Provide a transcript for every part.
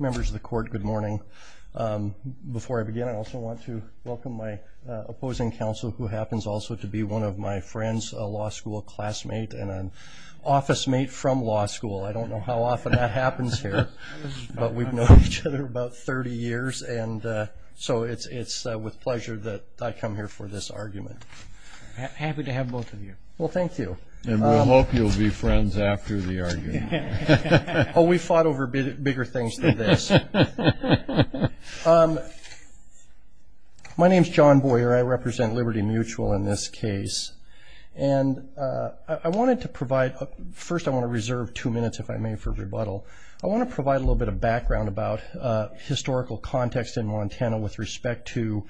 Members of the Court, good morning. Before I begin, I also want to welcome my opposing counsel, who happens also to be one of my friends, a law school classmate, and an office mate from law school. I don't know how often that happens here, but we've known each other about 30 years, and so it's with pleasure that I come here for this argument. Happy to have both of you. Well, thank you. And we hope you'll be friends after the argument. Oh, we've fought over bigger things than this. My name's John Boyer. I represent Liberty Mutual in this case. And I wanted to provide – first, I want to reserve two minutes, if I may, for rebuttal. I want to provide a little bit of background about historical context in Montana with respect to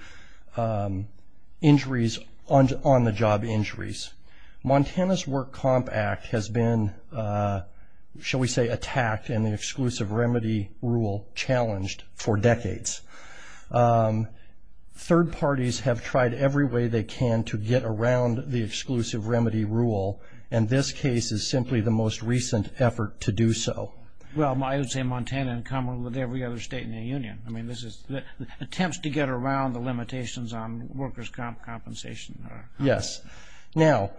injuries, on-the-job injuries. Montana's Work Comp Act has been, shall we say, attacked and the Exclusive Remedy Rule challenged for decades. Third parties have tried every way they can to get around the Exclusive Remedy Rule, and this case is simply the most recent effort to do so. Well, I would say Montana, in common with every other state in the union. I mean, this is – attempts to get around the limitations on workers' compensation. Yes. Now,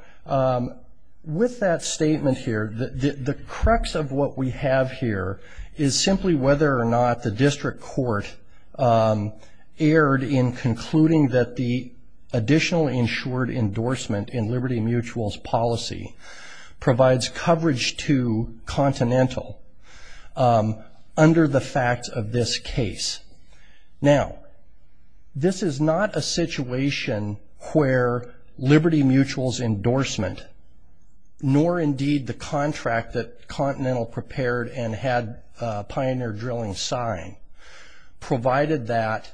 with that statement here, the crux of what we have here is simply whether or not the district court erred in concluding that the additional insured endorsement in Liberty Mutual's policy provides coverage to Continental under the facts of this case. Now, this is not a situation where Liberty Mutual's endorsement, nor indeed the contract that Continental prepared and had Pioneer Drilling sign, provided that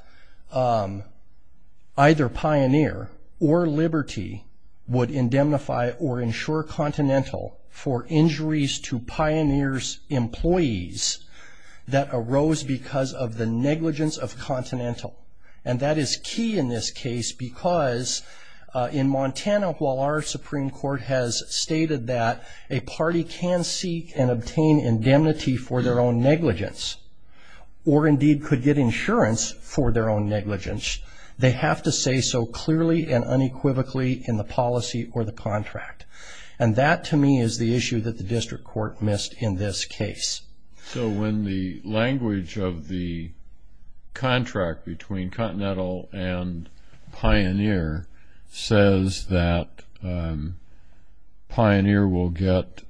either Pioneer or Liberty would indemnify or insure Continental for injuries to Pioneer's employees that arose because of the negligence of Continental. And that is key in this case because in Montana, while our Supreme Court has stated that a party can seek and obtain indemnity for their own negligence or indeed could get insurance for their own negligence, they have to say so clearly and unequivocally in the policy or the contract. And that, to me, is the issue that the district court missed in this case. So when the language of the contract between Continental and Pioneer says that Pioneer will get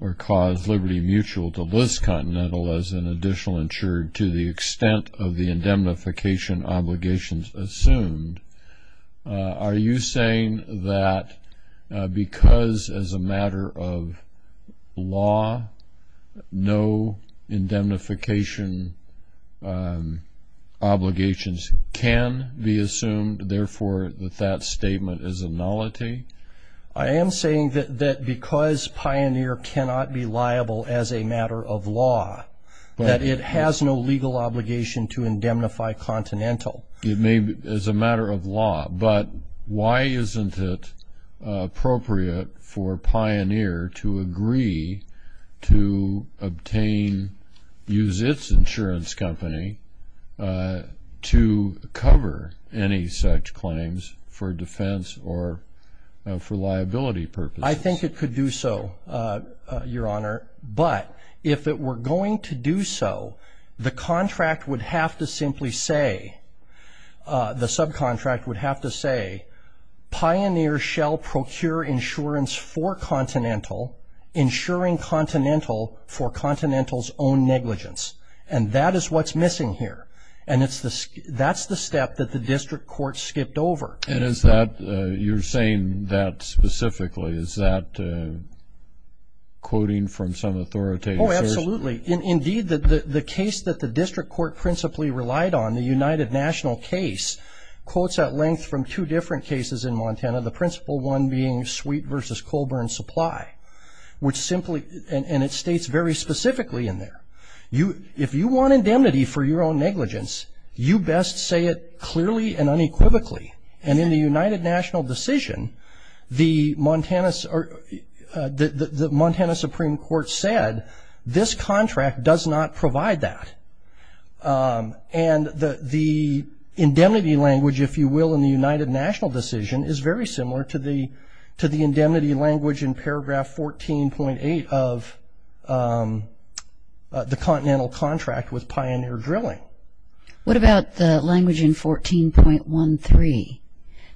or cause Liberty Mutual to list Continental as an additional insured to the extent of the indemnification obligations assumed, are you saying that because as a matter of law, no indemnification obligations can be assumed, therefore that that statement is a nullity? I am saying that because Pioneer cannot be liable as a matter of law, that it has no legal obligation to indemnify Continental. It may be as a matter of law, but why isn't it appropriate for Pioneer to agree to obtain, use its insurance company to cover any such claims for defense or for liability purposes? I think it could do so, Your Honor. But if it were going to do so, the contract would have to simply say, the subcontract would have to say, Pioneer shall procure insurance for Continental, insuring Continental for Continental's own negligence. And that is what's missing here. And that's the step that the district court skipped over. And is that, you're saying that specifically, is that quoting from some authoritative source? Oh, absolutely. Indeed, the case that the district court principally relied on, the United National case, quotes at length from two different cases in Montana, the principal one being Sweet v. Colburn Supply, which simply, and it states very specifically in there, if you want indemnity for your own negligence, you best say it clearly and unequivocally. And in the United National decision, the Montana Supreme Court said, this contract does not provide that. And the indemnity language, if you will, in the United National decision, is very similar to the indemnity language in paragraph 14.8 of the Continental contract with Pioneer Drilling. What about the language in 14.13?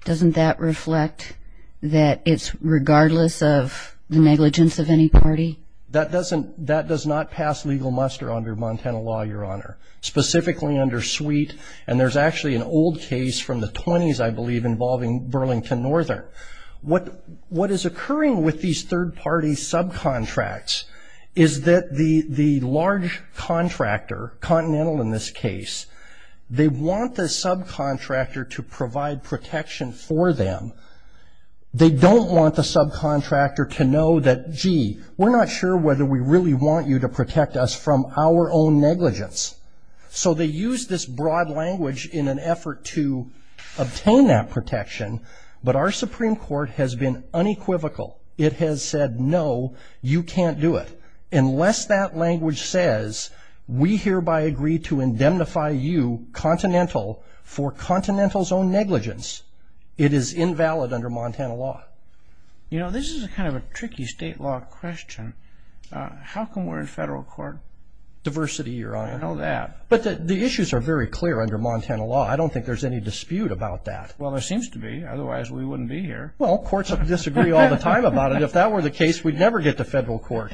Doesn't that reflect that it's regardless of the negligence of any party? That does not pass legal muster under Montana law, Your Honor, specifically under Sweet. And there's actually an old case from the 20s, I believe, involving Burlington Northern. What is occurring with these third-party subcontracts is that the large contractor, Continental in this case, they want the subcontractor to provide protection for them. They don't want the subcontractor to know that, gee, we're not sure whether we really want you to protect us from our own negligence. So they use this broad language in an effort to obtain that protection. But our Supreme Court has been unequivocal. It has said, no, you can't do it unless that language says, we hereby agree to indemnify you, Continental, for Continental's own negligence. It is invalid under Montana law. You know, this is kind of a tricky state law question. How come we're in federal court? Diversity, Your Honor. I know that. But the issues are very clear under Montana law. I don't think there's any dispute about that. Well, there seems to be. Otherwise, we wouldn't be here. Well, courts disagree all the time about it. If that were the case, we'd never get to federal court.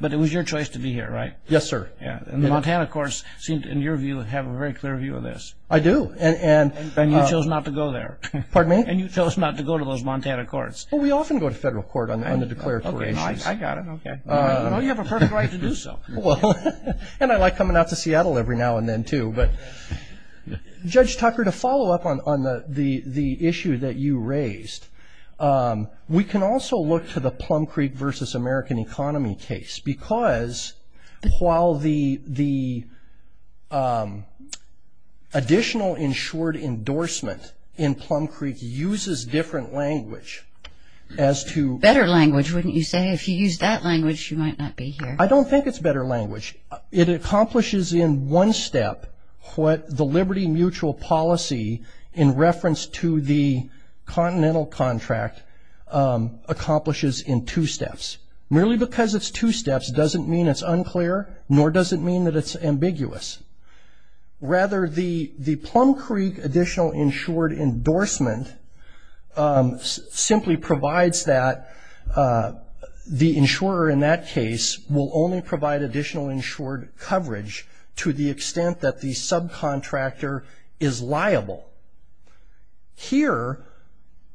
But it was your choice to be here, right? Yes, sir. And the Montana courts, in your view, have a very clear view of this. I do. And you chose not to go there. Pardon me? And you chose not to go to those Montana courts. Well, we often go to federal court on the declaratory issues. I got it. Okay. Well, you have a perfect right to do so. Well, and I like coming out to Seattle every now and then, too. But Judge Tucker, to follow up on the issue that you raised, we can also look to the Plum Creek versus American economy case. Because while the additional insured endorsement in Plum Creek uses different language as to – Better language, wouldn't you say? If you use that language, you might not be here. I don't think it's better language. It accomplishes in one step what the Liberty Mutual policy, in reference to the continental contract, accomplishes in two steps. Merely because it's two steps doesn't mean it's unclear, nor does it mean that it's ambiguous. Rather, the Plum Creek additional insured endorsement simply provides that the insurer in that case will only provide additional insured coverage to the extent that the subcontractor is liable. Here,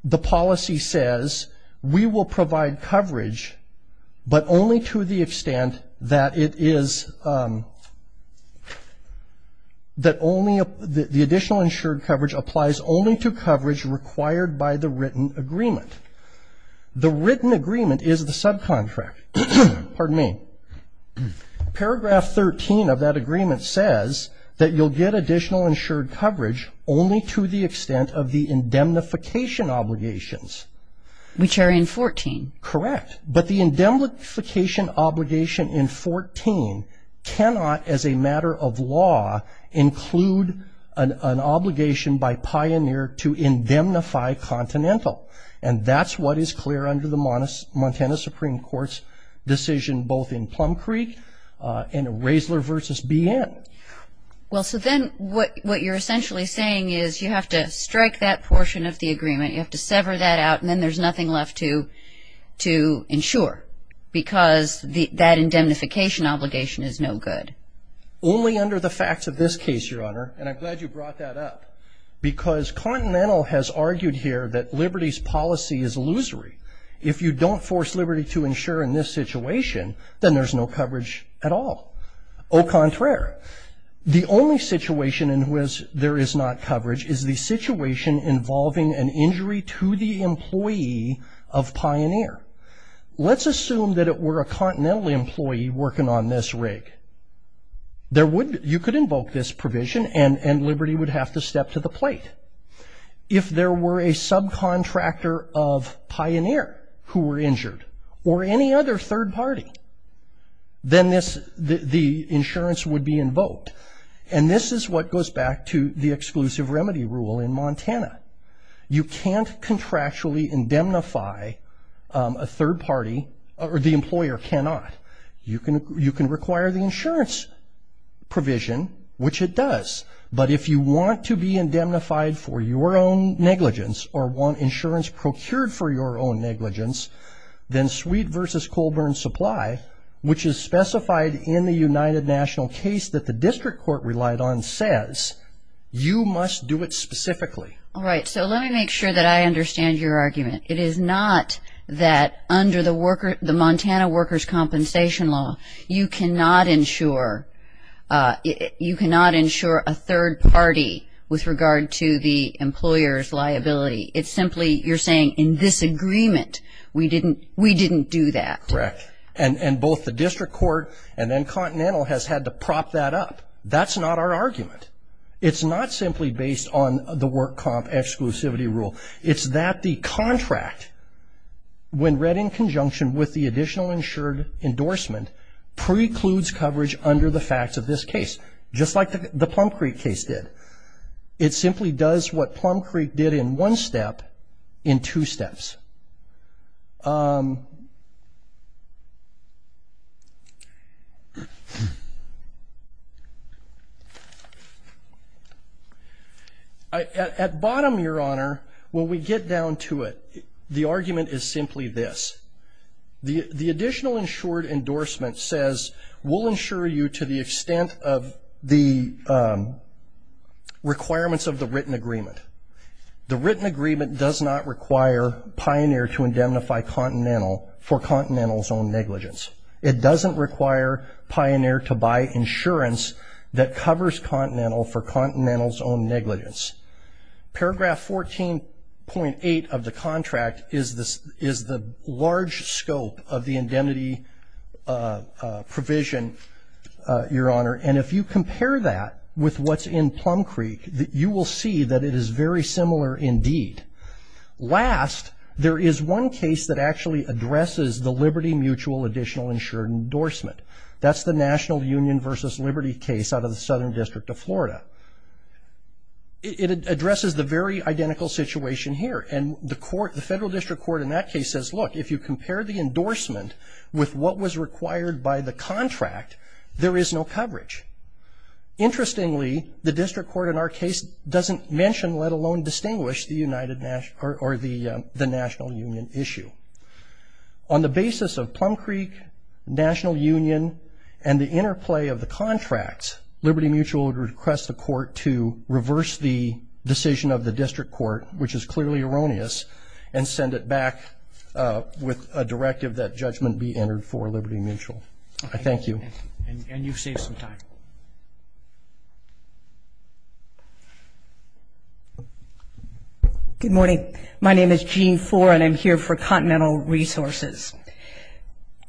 the policy says we will provide coverage, but only to the extent that it is – that the additional insured coverage applies only to coverage required by the written agreement. The written agreement is the subcontract. Pardon me. Paragraph 13 of that agreement says that you'll get additional insured coverage only to the extent of the indemnification obligations. Which are in 14. Correct. But the indemnification obligation in 14 cannot, as a matter of law, include an obligation by Pioneer to indemnify continental. And that's what is clear under the Montana Supreme Court's decision, both in Plum Creek and in Raessler v. BN. Well, so then what you're essentially saying is you have to strike that portion of the agreement, you have to sever that out, and then there's nothing left to insure, because that indemnification obligation is no good. Only under the facts of this case, Your Honor, and I'm glad you brought that up, because continental has argued here that liberty's policy is illusory. If you don't force liberty to insure in this situation, then there's no coverage at all. Au contraire. The only situation in which there is not coverage is the situation involving an injury to the employee of Pioneer. Let's assume that it were a continental employee working on this rig. You could invoke this provision, and liberty would have to step to the plate. If there were a subcontractor of Pioneer who were injured, or any other third party, then the insurance would be invoked. And this is what goes back to the exclusive remedy rule in Montana. You can't contractually indemnify a third party, or the employer cannot. You can require the insurance provision, which it does, but if you want to be indemnified for your own negligence, or want insurance procured for your own negligence, then Sweet v. Colburn Supply, which is specified in the United National case that the district court relied on, says you must do it specifically. All right. So let me make sure that I understand your argument. It is not that under the Montana workers' compensation law, you cannot insure a third party with regard to the employer's liability. It's simply you're saying in this agreement we didn't do that. Correct. And both the district court and then Continental has had to prop that up. That's not our argument. It's not simply based on the work comp exclusivity rule. It's that the contract, when read in conjunction with the additional insured endorsement, precludes coverage under the facts of this case, just like the Plum Creek case did. It simply does what Plum Creek did in one step in two steps. At bottom, Your Honor, when we get down to it, the argument is simply this. The additional insured endorsement says, we'll insure you to the extent of the requirements of the written agreement. The written agreement does not require Pioneer to indemnify Continental for Continental's own negligence. It doesn't require Pioneer to buy insurance that covers Continental for Continental's own negligence. Paragraph 14.8 of the contract is the large scope of the indemnity provision, Your Honor. And if you compare that with what's in Plum Creek, you will see that it is very similar indeed. Last, there is one case that actually addresses the Liberty Mutual additional insured endorsement. That's the National Union versus Liberty case out of the Southern District of Florida. It addresses the very identical situation here. And the federal district court in that case says, look, if you compare the endorsement with what was required by the contract, there is no coverage. Interestingly, the district court in our case doesn't mention, let alone distinguish, the National Union issue. On the basis of Plum Creek, National Union, and the interplay of the contracts, Liberty Mutual would request the court to reverse the decision of the district court, which is clearly erroneous, and send it back with a directive that judgment be entered for Liberty Mutual. I thank you. And you've saved some time. Good morning. My name is Jean Fore, and I'm here for Continental Resources.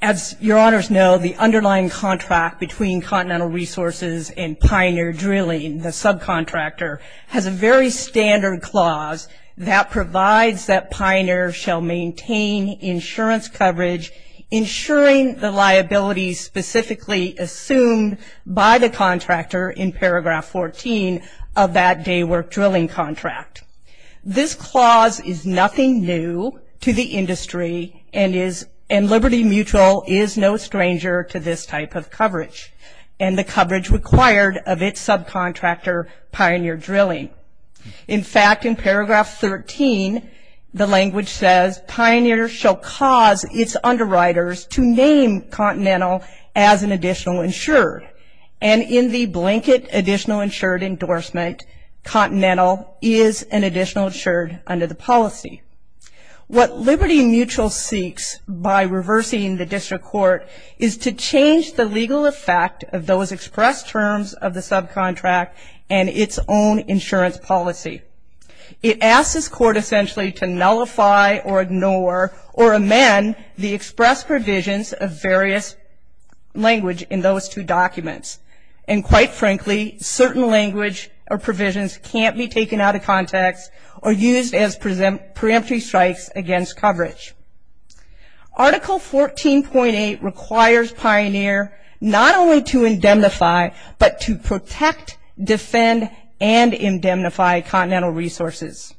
As your honors know, the underlying contract between Continental Resources and Pioneer Drilling, the subcontractor, has a very standard clause that provides that Pioneer shall maintain insurance coverage, ensuring the liability specifically assumed by the contractor in paragraph 14 of that day work drilling contract. This clause is nothing new to the industry, and Liberty Mutual is no stranger to this type of coverage, and the coverage required of its subcontractor, Pioneer Drilling. In fact, in paragraph 13, the language says, Pioneer shall cause its underwriters to name Continental as an additional insured. And in the blanket additional insured endorsement, Continental is an additional insured under the policy. What Liberty Mutual seeks by reversing the district court is to change the legal effect of those expressed terms of the subcontract and its own insurance policy. It asks this court essentially to nullify or ignore or amend the expressed provisions of various language in those two documents. And quite frankly, certain language or provisions can't be taken out of context or used as preemptory strikes against coverage. Article 14.8 requires Pioneer not only to indemnify, but to protect, defend, and indemnify Continental Resources.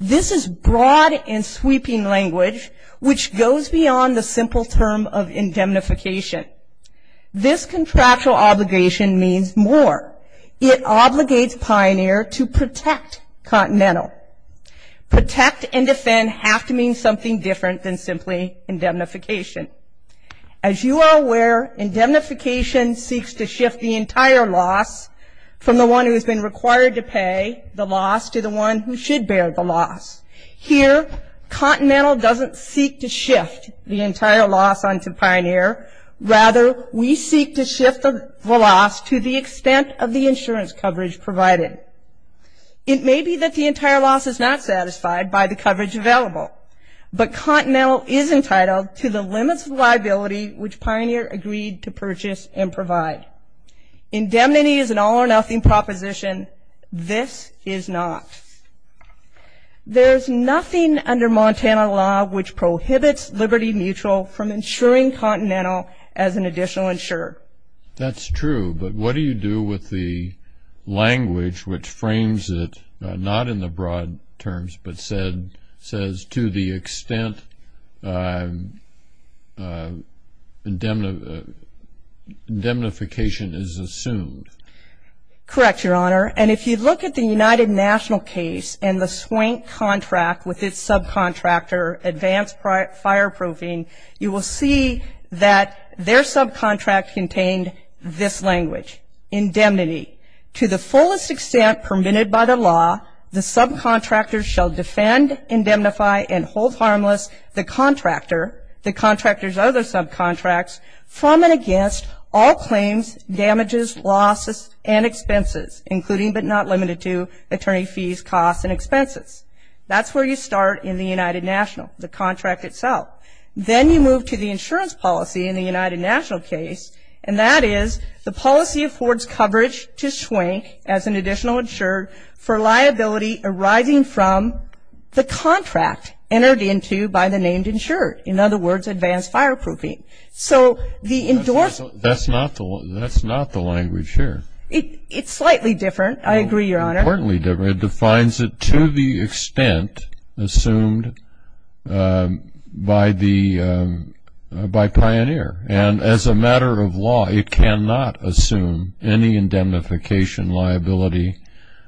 This is broad and sweeping language, which goes beyond the simple term of indemnification. This contractual obligation means more. It obligates Pioneer to protect Continental. Protect and defend have to mean something different than simply indemnification. As you are aware, indemnification seeks to shift the entire loss from the one who has been required to pay the loss to the one who should bear the loss. Here, Continental doesn't seek to shift the entire loss onto Pioneer. Rather, we seek to shift the loss to the extent of the insurance coverage provided. It may be that the entire loss is not satisfied by the coverage available, but Continental is entitled to the limits of liability which Pioneer agreed to purchase and provide. Indemnity is an all-or-nothing proposition. This is not. There is nothing under Montana law which prohibits Liberty Mutual from insuring Continental as an additional insurer. That's true, but what do you do with the language which frames it, not in the broad terms but says to the extent indemnification is assumed? Correct, Your Honor, and if you look at the United National case and the Swank contract with its subcontractor, Advanced Fireproofing, you will see that their subcontract contained this language, indemnity. To the fullest extent permitted by the law, the subcontractor shall defend, indemnify, and hold harmless the contractor, the contractor's other subcontracts, from and against all claims, damages, losses, and expenses, including but not limited to attorney fees, costs, and expenses. That's where you start in the United National, the contract itself. Then you move to the insurance policy in the United National case, and that is the policy affords coverage to Swank as an additional insurer for liability arising from the contract entered into by the named insurer. In other words, Advanced Fireproofing. So the endorsement. That's not the language here. It's slightly different. I agree, Your Honor. Importantly different. It defines it to the extent assumed by Pioneer. And as a matter of law, it cannot assume any indemnification liability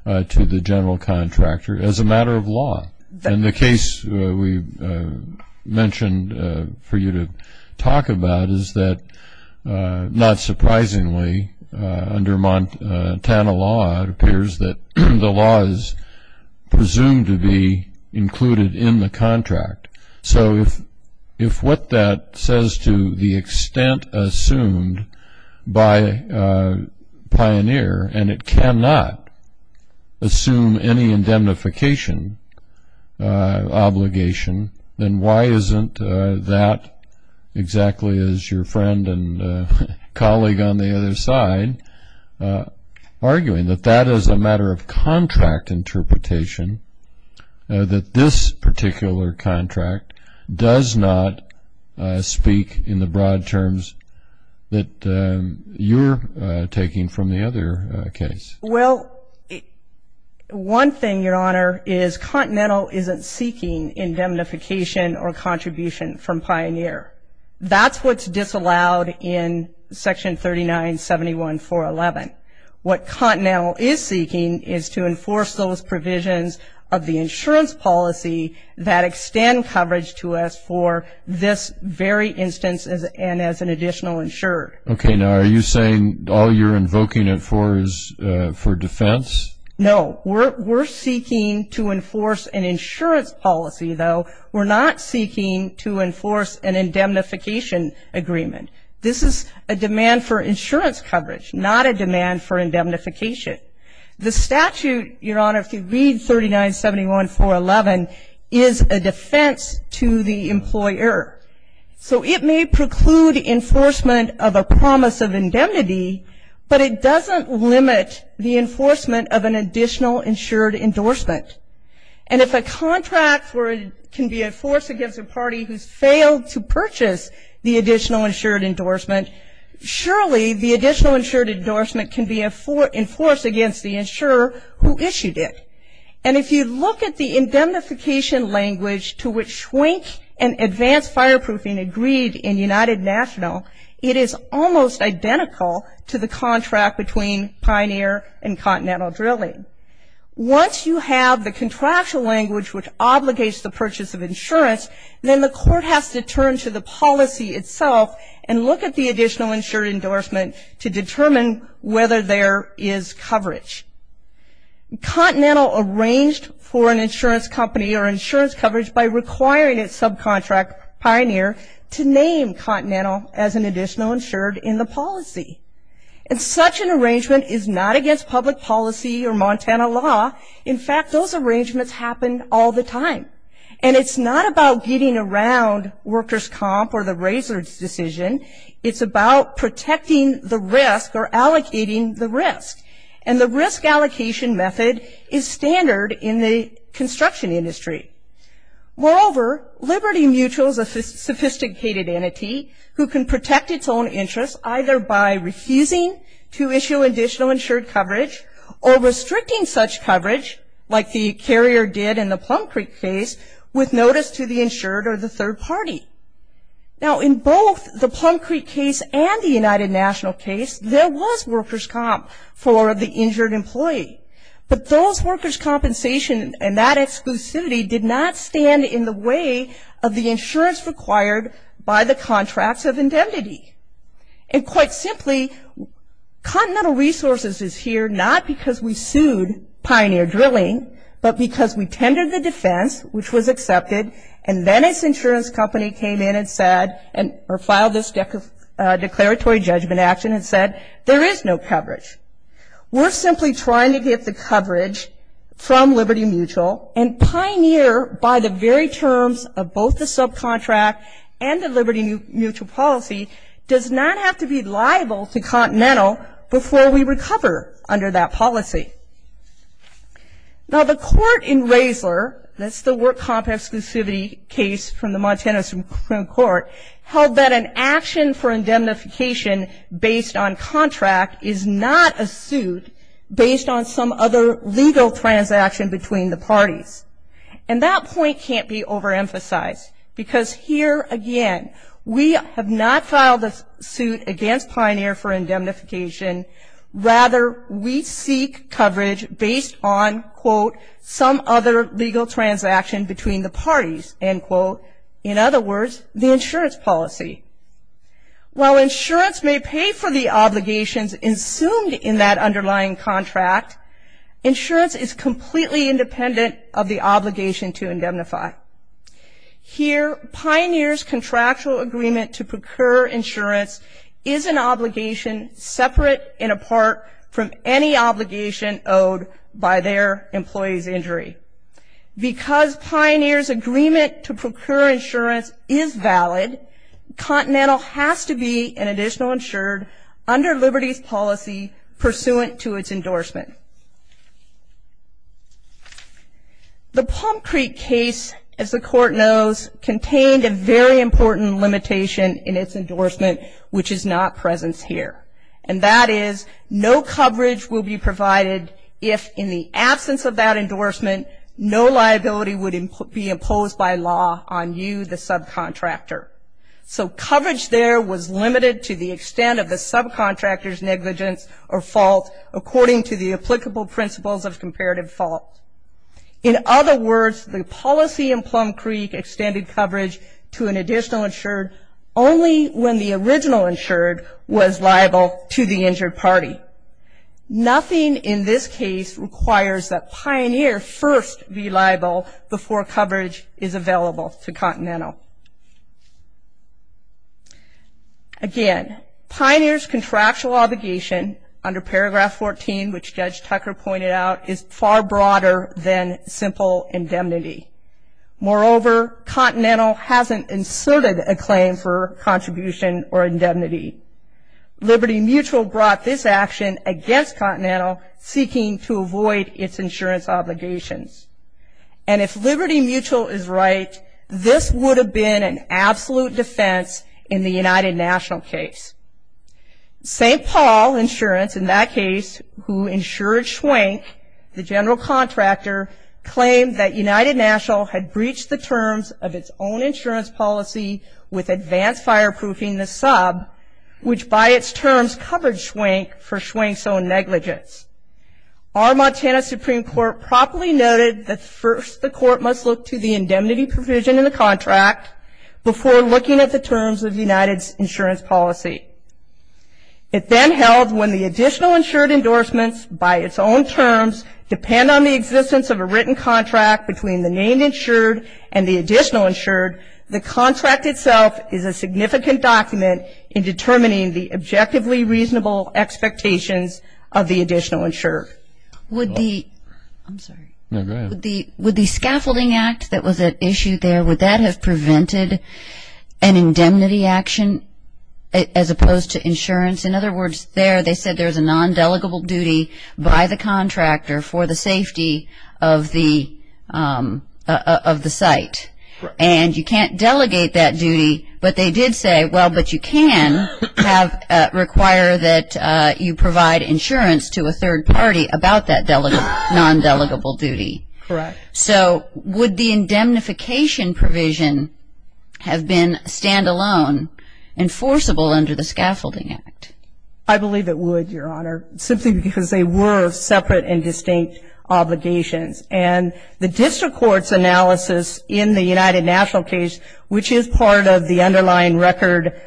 to the general contractor as a matter of law. And the case we mentioned for you to talk about is that, not surprisingly, under Montana law it appears that the law is presumed to be included in the contract. So if what that says to the extent assumed by Pioneer, and it cannot assume any indemnification obligation, then why isn't that exactly as your friend and colleague on the other side arguing, that that is a matter of contract interpretation, that this particular contract does not speak in the broad terms that you're taking from the other case? Well, one thing, Your Honor, is Continental isn't seeking indemnification or contribution from Pioneer. That's what's disallowed in Section 3971.411. What Continental is seeking is to enforce those provisions of the insurance policy that extend coverage to us for this very instance and as an additional insured. Okay. Now, are you saying all you're invoking it for is for defense? No. We're seeking to enforce an insurance policy, though. We're not seeking to enforce an indemnification agreement. This is a demand for insurance coverage, not a demand for indemnification. The statute, Your Honor, if you read 3971.411, is a defense to the employer. So it may preclude enforcement of a promise of indemnity, but it doesn't limit the enforcement of an additional insured endorsement. And if a contract can be enforced against a party who's failed to purchase the additional insured endorsement, surely the additional insured endorsement can be enforced against the insurer who issued it. And if you look at the indemnification language to which Schwenk and Advanced Fireproofing agreed in United National, it is almost identical to the contract between Pioneer and Continental Drilling. Once you have the contractual language which obligates the purchase of insurance, then the court has to turn to the policy itself and look at the additional insured endorsement to determine whether there is coverage. Continental arranged for an insurance company or insurance coverage by requiring its subcontract, Pioneer, to name Continental as an additional insured in the policy. And such an arrangement is not against public policy or Montana law. In fact, those arrangements happen all the time. And it's not about getting around workers' comp or the razor's decision. It's about protecting the risk or allocating the risk. And the risk allocation method is standard in the construction industry. Moreover, Liberty Mutual is a sophisticated entity who can protect its own interests either by refusing to issue additional insured coverage or restricting such coverage like the carrier did in the Plum Creek case with notice to the insured or the third party. Now, in both the Plum Creek case and the United National case, there was workers' comp for the injured employee. But those workers' compensation and that exclusivity did not stand in the way of the insurance required by the contracts of indemnity. And quite simply, Continental Resources is here not because we sued Pioneer Drilling, but because we tendered the defense, which was accepted, and then its insurance company came in and said or filed this declaratory judgment action and said there is no coverage. We're simply trying to get the coverage from Liberty Mutual and Pioneer by the very terms of both the subcontract and the Liberty Mutual policy does not have to be liable to Continental before we recover under that policy. Now, the court in Raisler, that's the work comp exclusivity case from the Montana Supreme Court, held that an action for indemnification based on contract is not a suit based on some other legal transaction between the parties. And that point can't be overemphasized because here, again, we have not filed a suit against Pioneer for indemnification. Rather, we seek coverage based on, quote, some other legal transaction between the parties, end quote. In other words, the insurance policy. While insurance may pay for the obligations assumed in that underlying contract, insurance is completely independent of the obligation to indemnify. Here, Pioneer's contractual agreement to procure insurance is an obligation separate and apart from any obligation owed by their employee's injury. Because Pioneer's agreement to procure insurance is valid, Continental has to be an additional insured under Liberty's policy pursuant to its endorsement. The Palm Creek case, as the court knows, contained a very important limitation in its endorsement, which is not present here. And that is no coverage will be provided if, in the absence of that endorsement, no liability would be imposed by law on you, the subcontractor. So coverage there was limited to the extent of the subcontractor's negligence or fault according to the applicable principles of comparative fault. In other words, the policy in Palm Creek extended coverage to an additional insured only when the original insured was liable to the injured party. Nothing in this case requires that Pioneer first be liable before coverage is available to Continental. Again, Pioneer's contractual obligation under paragraph 14, which Judge Tucker pointed out, is far broader than simple indemnity. Moreover, Continental hasn't inserted a claim for contribution or indemnity. Liberty Mutual brought this action against Continental seeking to avoid its insurance obligations. And if Liberty Mutual is right, this would have been an absolute defense in the United National case. St. Paul Insurance, in that case, who insured Schwenk, the general contractor, claimed that United National had breached the terms of its own insurance policy with advanced fireproofing the sub, which by its terms covered Schwenk for Schwenk's own negligence. Our Montana Supreme Court properly noted that first the court must look to the indemnity provision in the contract before looking at the terms of United's insurance policy. It then held when the additional insured endorsements, by its own terms, depend on the existence of a written contract between the named insured and the additional insured, the contract itself is a significant document in determining the objectively reasonable expectations of the additional insured. Would the scaffolding act that was issued there, would that have prevented an indemnity action as opposed to insurance? In other words, there they said there's a non-delegable duty by the contractor for the safety of the site. And you can't delegate that duty, but they did say, well, but you can require that you provide insurance to a third party about that non-delegable duty. Correct. So would the indemnification provision have been stand-alone enforceable under the scaffolding act? I believe it would, Your Honor, simply because they were separate and distinct obligations. And the district court's analysis in the United National case, which is part of the underlying record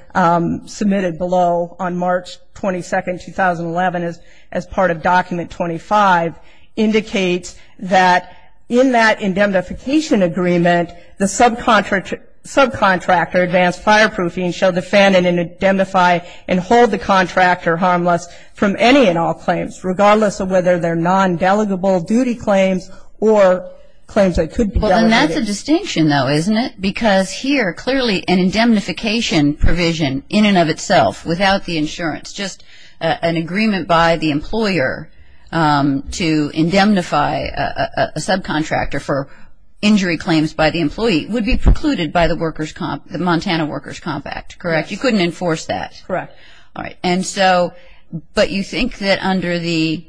submitted below on March 22, 2011, as part of Document 25, indicates that in that indemnification agreement, the subcontractor advanced fireproofing shall defend and indemnify and hold the contractor harmless from any and all claims, regardless of whether they're non-delegable duty claims or claims that could be delegated. Well, and that's a distinction, though, isn't it? Because here, clearly, an indemnification provision in and of itself, without the insurance, just an agreement by the employer to indemnify a subcontractor for injury claims by the employee, would be precluded by the Montana Workers' Comp Act, correct? You couldn't enforce that. Correct. All right. And so, but you think that under the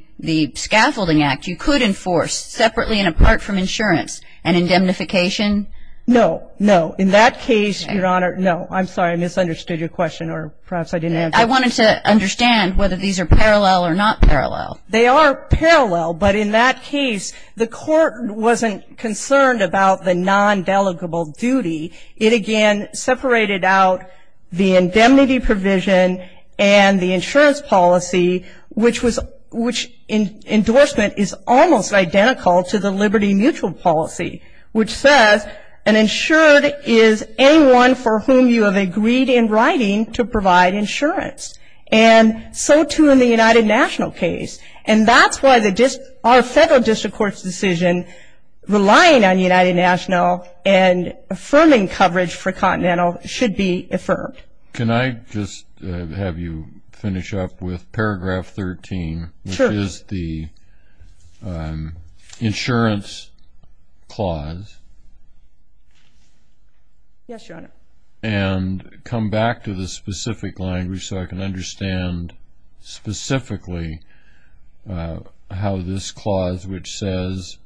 scaffolding act, you could enforce separately and apart from insurance an indemnification? No, no. In that case, Your Honor, no. I'm sorry, I misunderstood your question, or perhaps I didn't answer it. I wanted to understand whether these are parallel or not parallel. They are parallel, but in that case, the court wasn't concerned about the non-delegable duty. It, again, separated out the indemnity provision and the insurance policy, which was endorsement is almost identical to the liberty mutual policy, which says an insured is anyone for whom you have agreed in writing to provide insurance. And so, too, in the United National case. And that's why our federal district court's decision relying on United National and affirming coverage for continental should be affirmed. Can I just have you finish up with paragraph 13, which is the insurance clause? Yes, Your Honor. And come back to the specific language so I can understand specifically how this clause, which says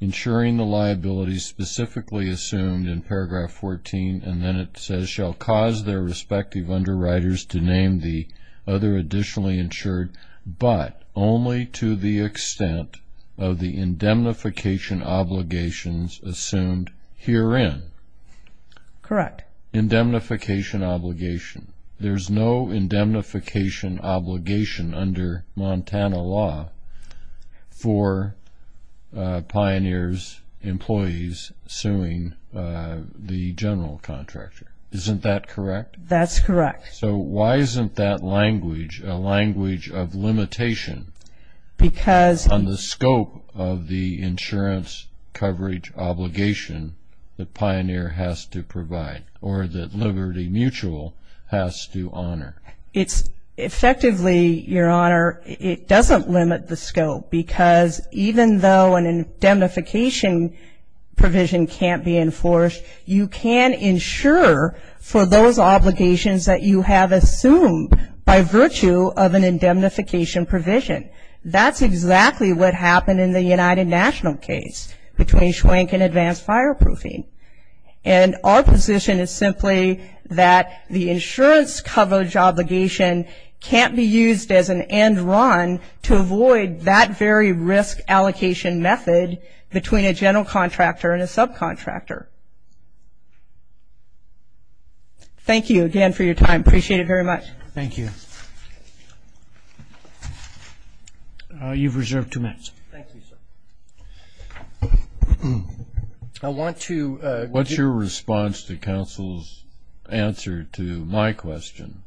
insuring the liability specifically assumed in paragraph 14, and then it says shall cause their respective underwriters to name the other additionally insured, but only to the extent of the indemnification obligations assumed herein. Correct. Indemnification obligation. There's no indemnification obligation under Montana law for Pioneer's employees suing the general contractor. Isn't that correct? That's correct. So why isn't that language a language of limitation on the scope of the insurance coverage obligation that Pioneer has to provide or that Liberty Mutual has to honor? It's effectively, Your Honor, it doesn't limit the scope, because even though an indemnification provision can't be enforced, you can insure for those obligations that you have assumed by virtue of an indemnification provision. That's exactly what happened in the United National case between Schwenk and advanced fireproofing. And our position is simply that the insurance coverage obligation can't be used as an end run to avoid that very risk allocation method between a general contractor and a subcontractor. Thank you again for your time. Appreciate it very much. Thank you. You've reserved two minutes. Thank you, sir. What's your response to counsel's answer to my question,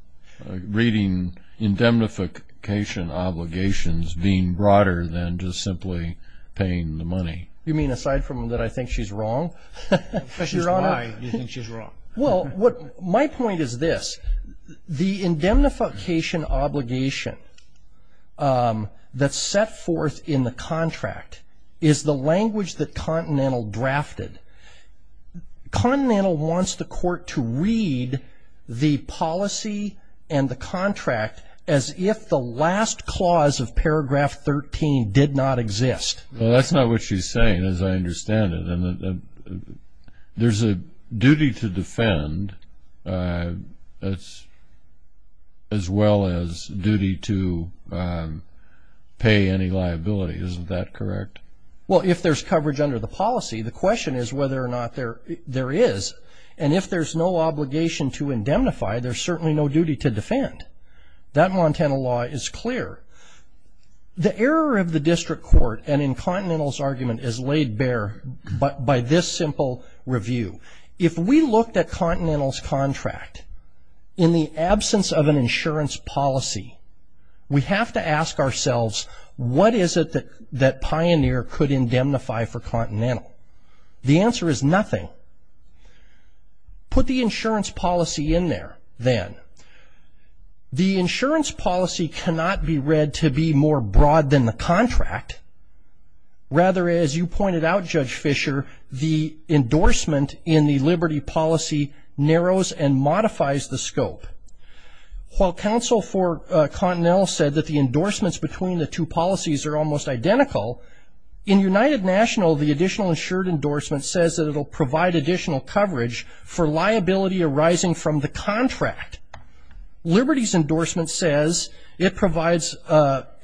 reading indemnification obligations being broader than just simply paying the money? You mean aside from that I think she's wrong? Why do you think she's wrong? Well, my point is this. The indemnification obligation that's set forth in the contract is the language that Continental drafted. Continental wants the court to read the policy and the contract as if the last clause of paragraph 13 did not exist. Well, that's not what she's saying, as I understand it. There's a duty to defend as well as duty to pay any liability. Isn't that correct? Well, if there's coverage under the policy, the question is whether or not there is. And if there's no obligation to indemnify, there's certainly no duty to defend. That Montana law is clear. The error of the district court and in Continental's argument is laid bare by this simple review. If we looked at Continental's contract, in the absence of an insurance policy, we have to ask ourselves what is it that Pioneer could indemnify for Continental. The answer is nothing. Put the insurance policy in there then. The insurance policy cannot be read to be more broad than the contract. Rather, as you pointed out, Judge Fischer, the endorsement in the liberty policy narrows and modifies the scope. While counsel for Continental said that the endorsements between the two policies are almost identical, in United National the additional insured endorsement says that it will provide additional coverage for liability arising from the contract. Liberty's endorsement says it provides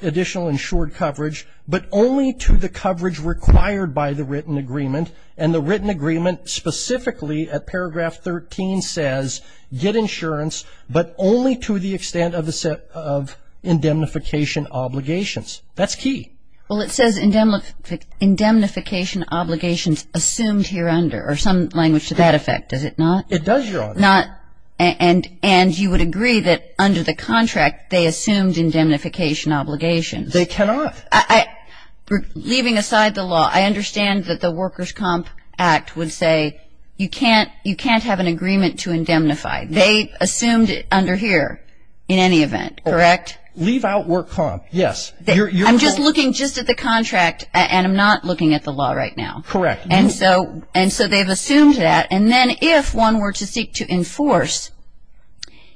additional insured coverage, but only to the coverage required by the written agreement. And the written agreement specifically at paragraph 13 says get insurance, but only to the extent of indemnification obligations. That's key. Well, it says indemnification obligations assumed here under, or some language to that effect. Is it not? It does, Your Honor. And you would agree that under the contract they assumed indemnification obligations. They cannot. Leaving aside the law, I understand that the Workers' Comp Act would say you can't have an agreement to indemnify. They assumed it under here in any event, correct? Leave out Work Comp, yes. I'm just looking just at the contract, and I'm not looking at the law right now. Correct. And so they've assumed that. And then if one were to seek to enforce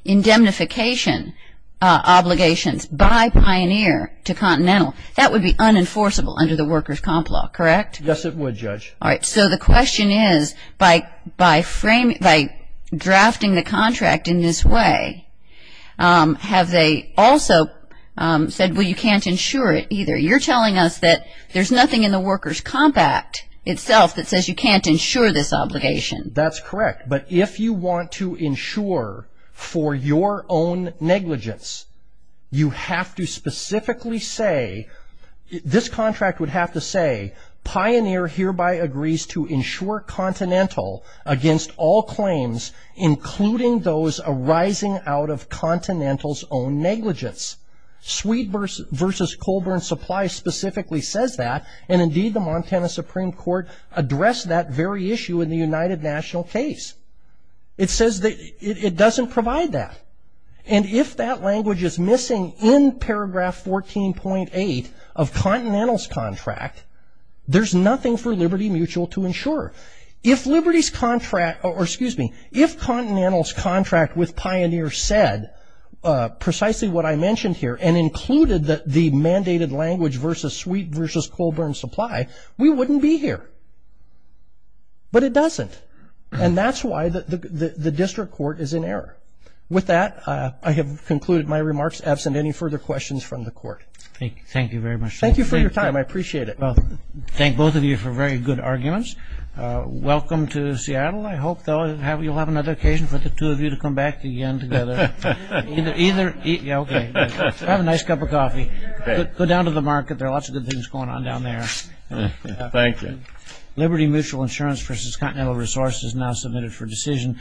indemnification obligations by Pioneer to Continental, that would be unenforceable under the Workers' Comp Law, correct? Yes, it would, Judge. All right. So the question is, by drafting the contract in this way, have they also said, well, you can't insure it either? You're telling us that there's nothing in the Workers' Comp Act itself that says you can't insure this obligation. That's correct. But if you want to insure for your own negligence, you have to specifically say, this contract would have to say, Pioneer hereby agrees to insure Continental against all claims, including those arising out of Continental's own negligence. Sweet v. Colburn Supply specifically says that, and indeed the Montana Supreme Court addressed that very issue in the United National case. It says it doesn't provide that. And if that language is missing in paragraph 14.8 of Continental's contract, there's nothing for Liberty Mutual to insure. If Liberty's contract, or excuse me, if Continental's contract with Pioneer said precisely what I mentioned here and included the mandated language v. Sweet v. Colburn Supply, we wouldn't be here. But it doesn't. And that's why the district court is in error. With that, I have concluded my remarks. Absent any further questions from the court. Thank you very much. Thank you for your time. I appreciate it. Thank both of you for very good arguments. Welcome to Seattle. I hope you'll have another occasion for the two of you to come back again together. Have a nice cup of coffee. Go down to the market. There are lots of good things going on down there. Thank you. Liberty Mutual Insurance v. Continental Resources now submitted for decision.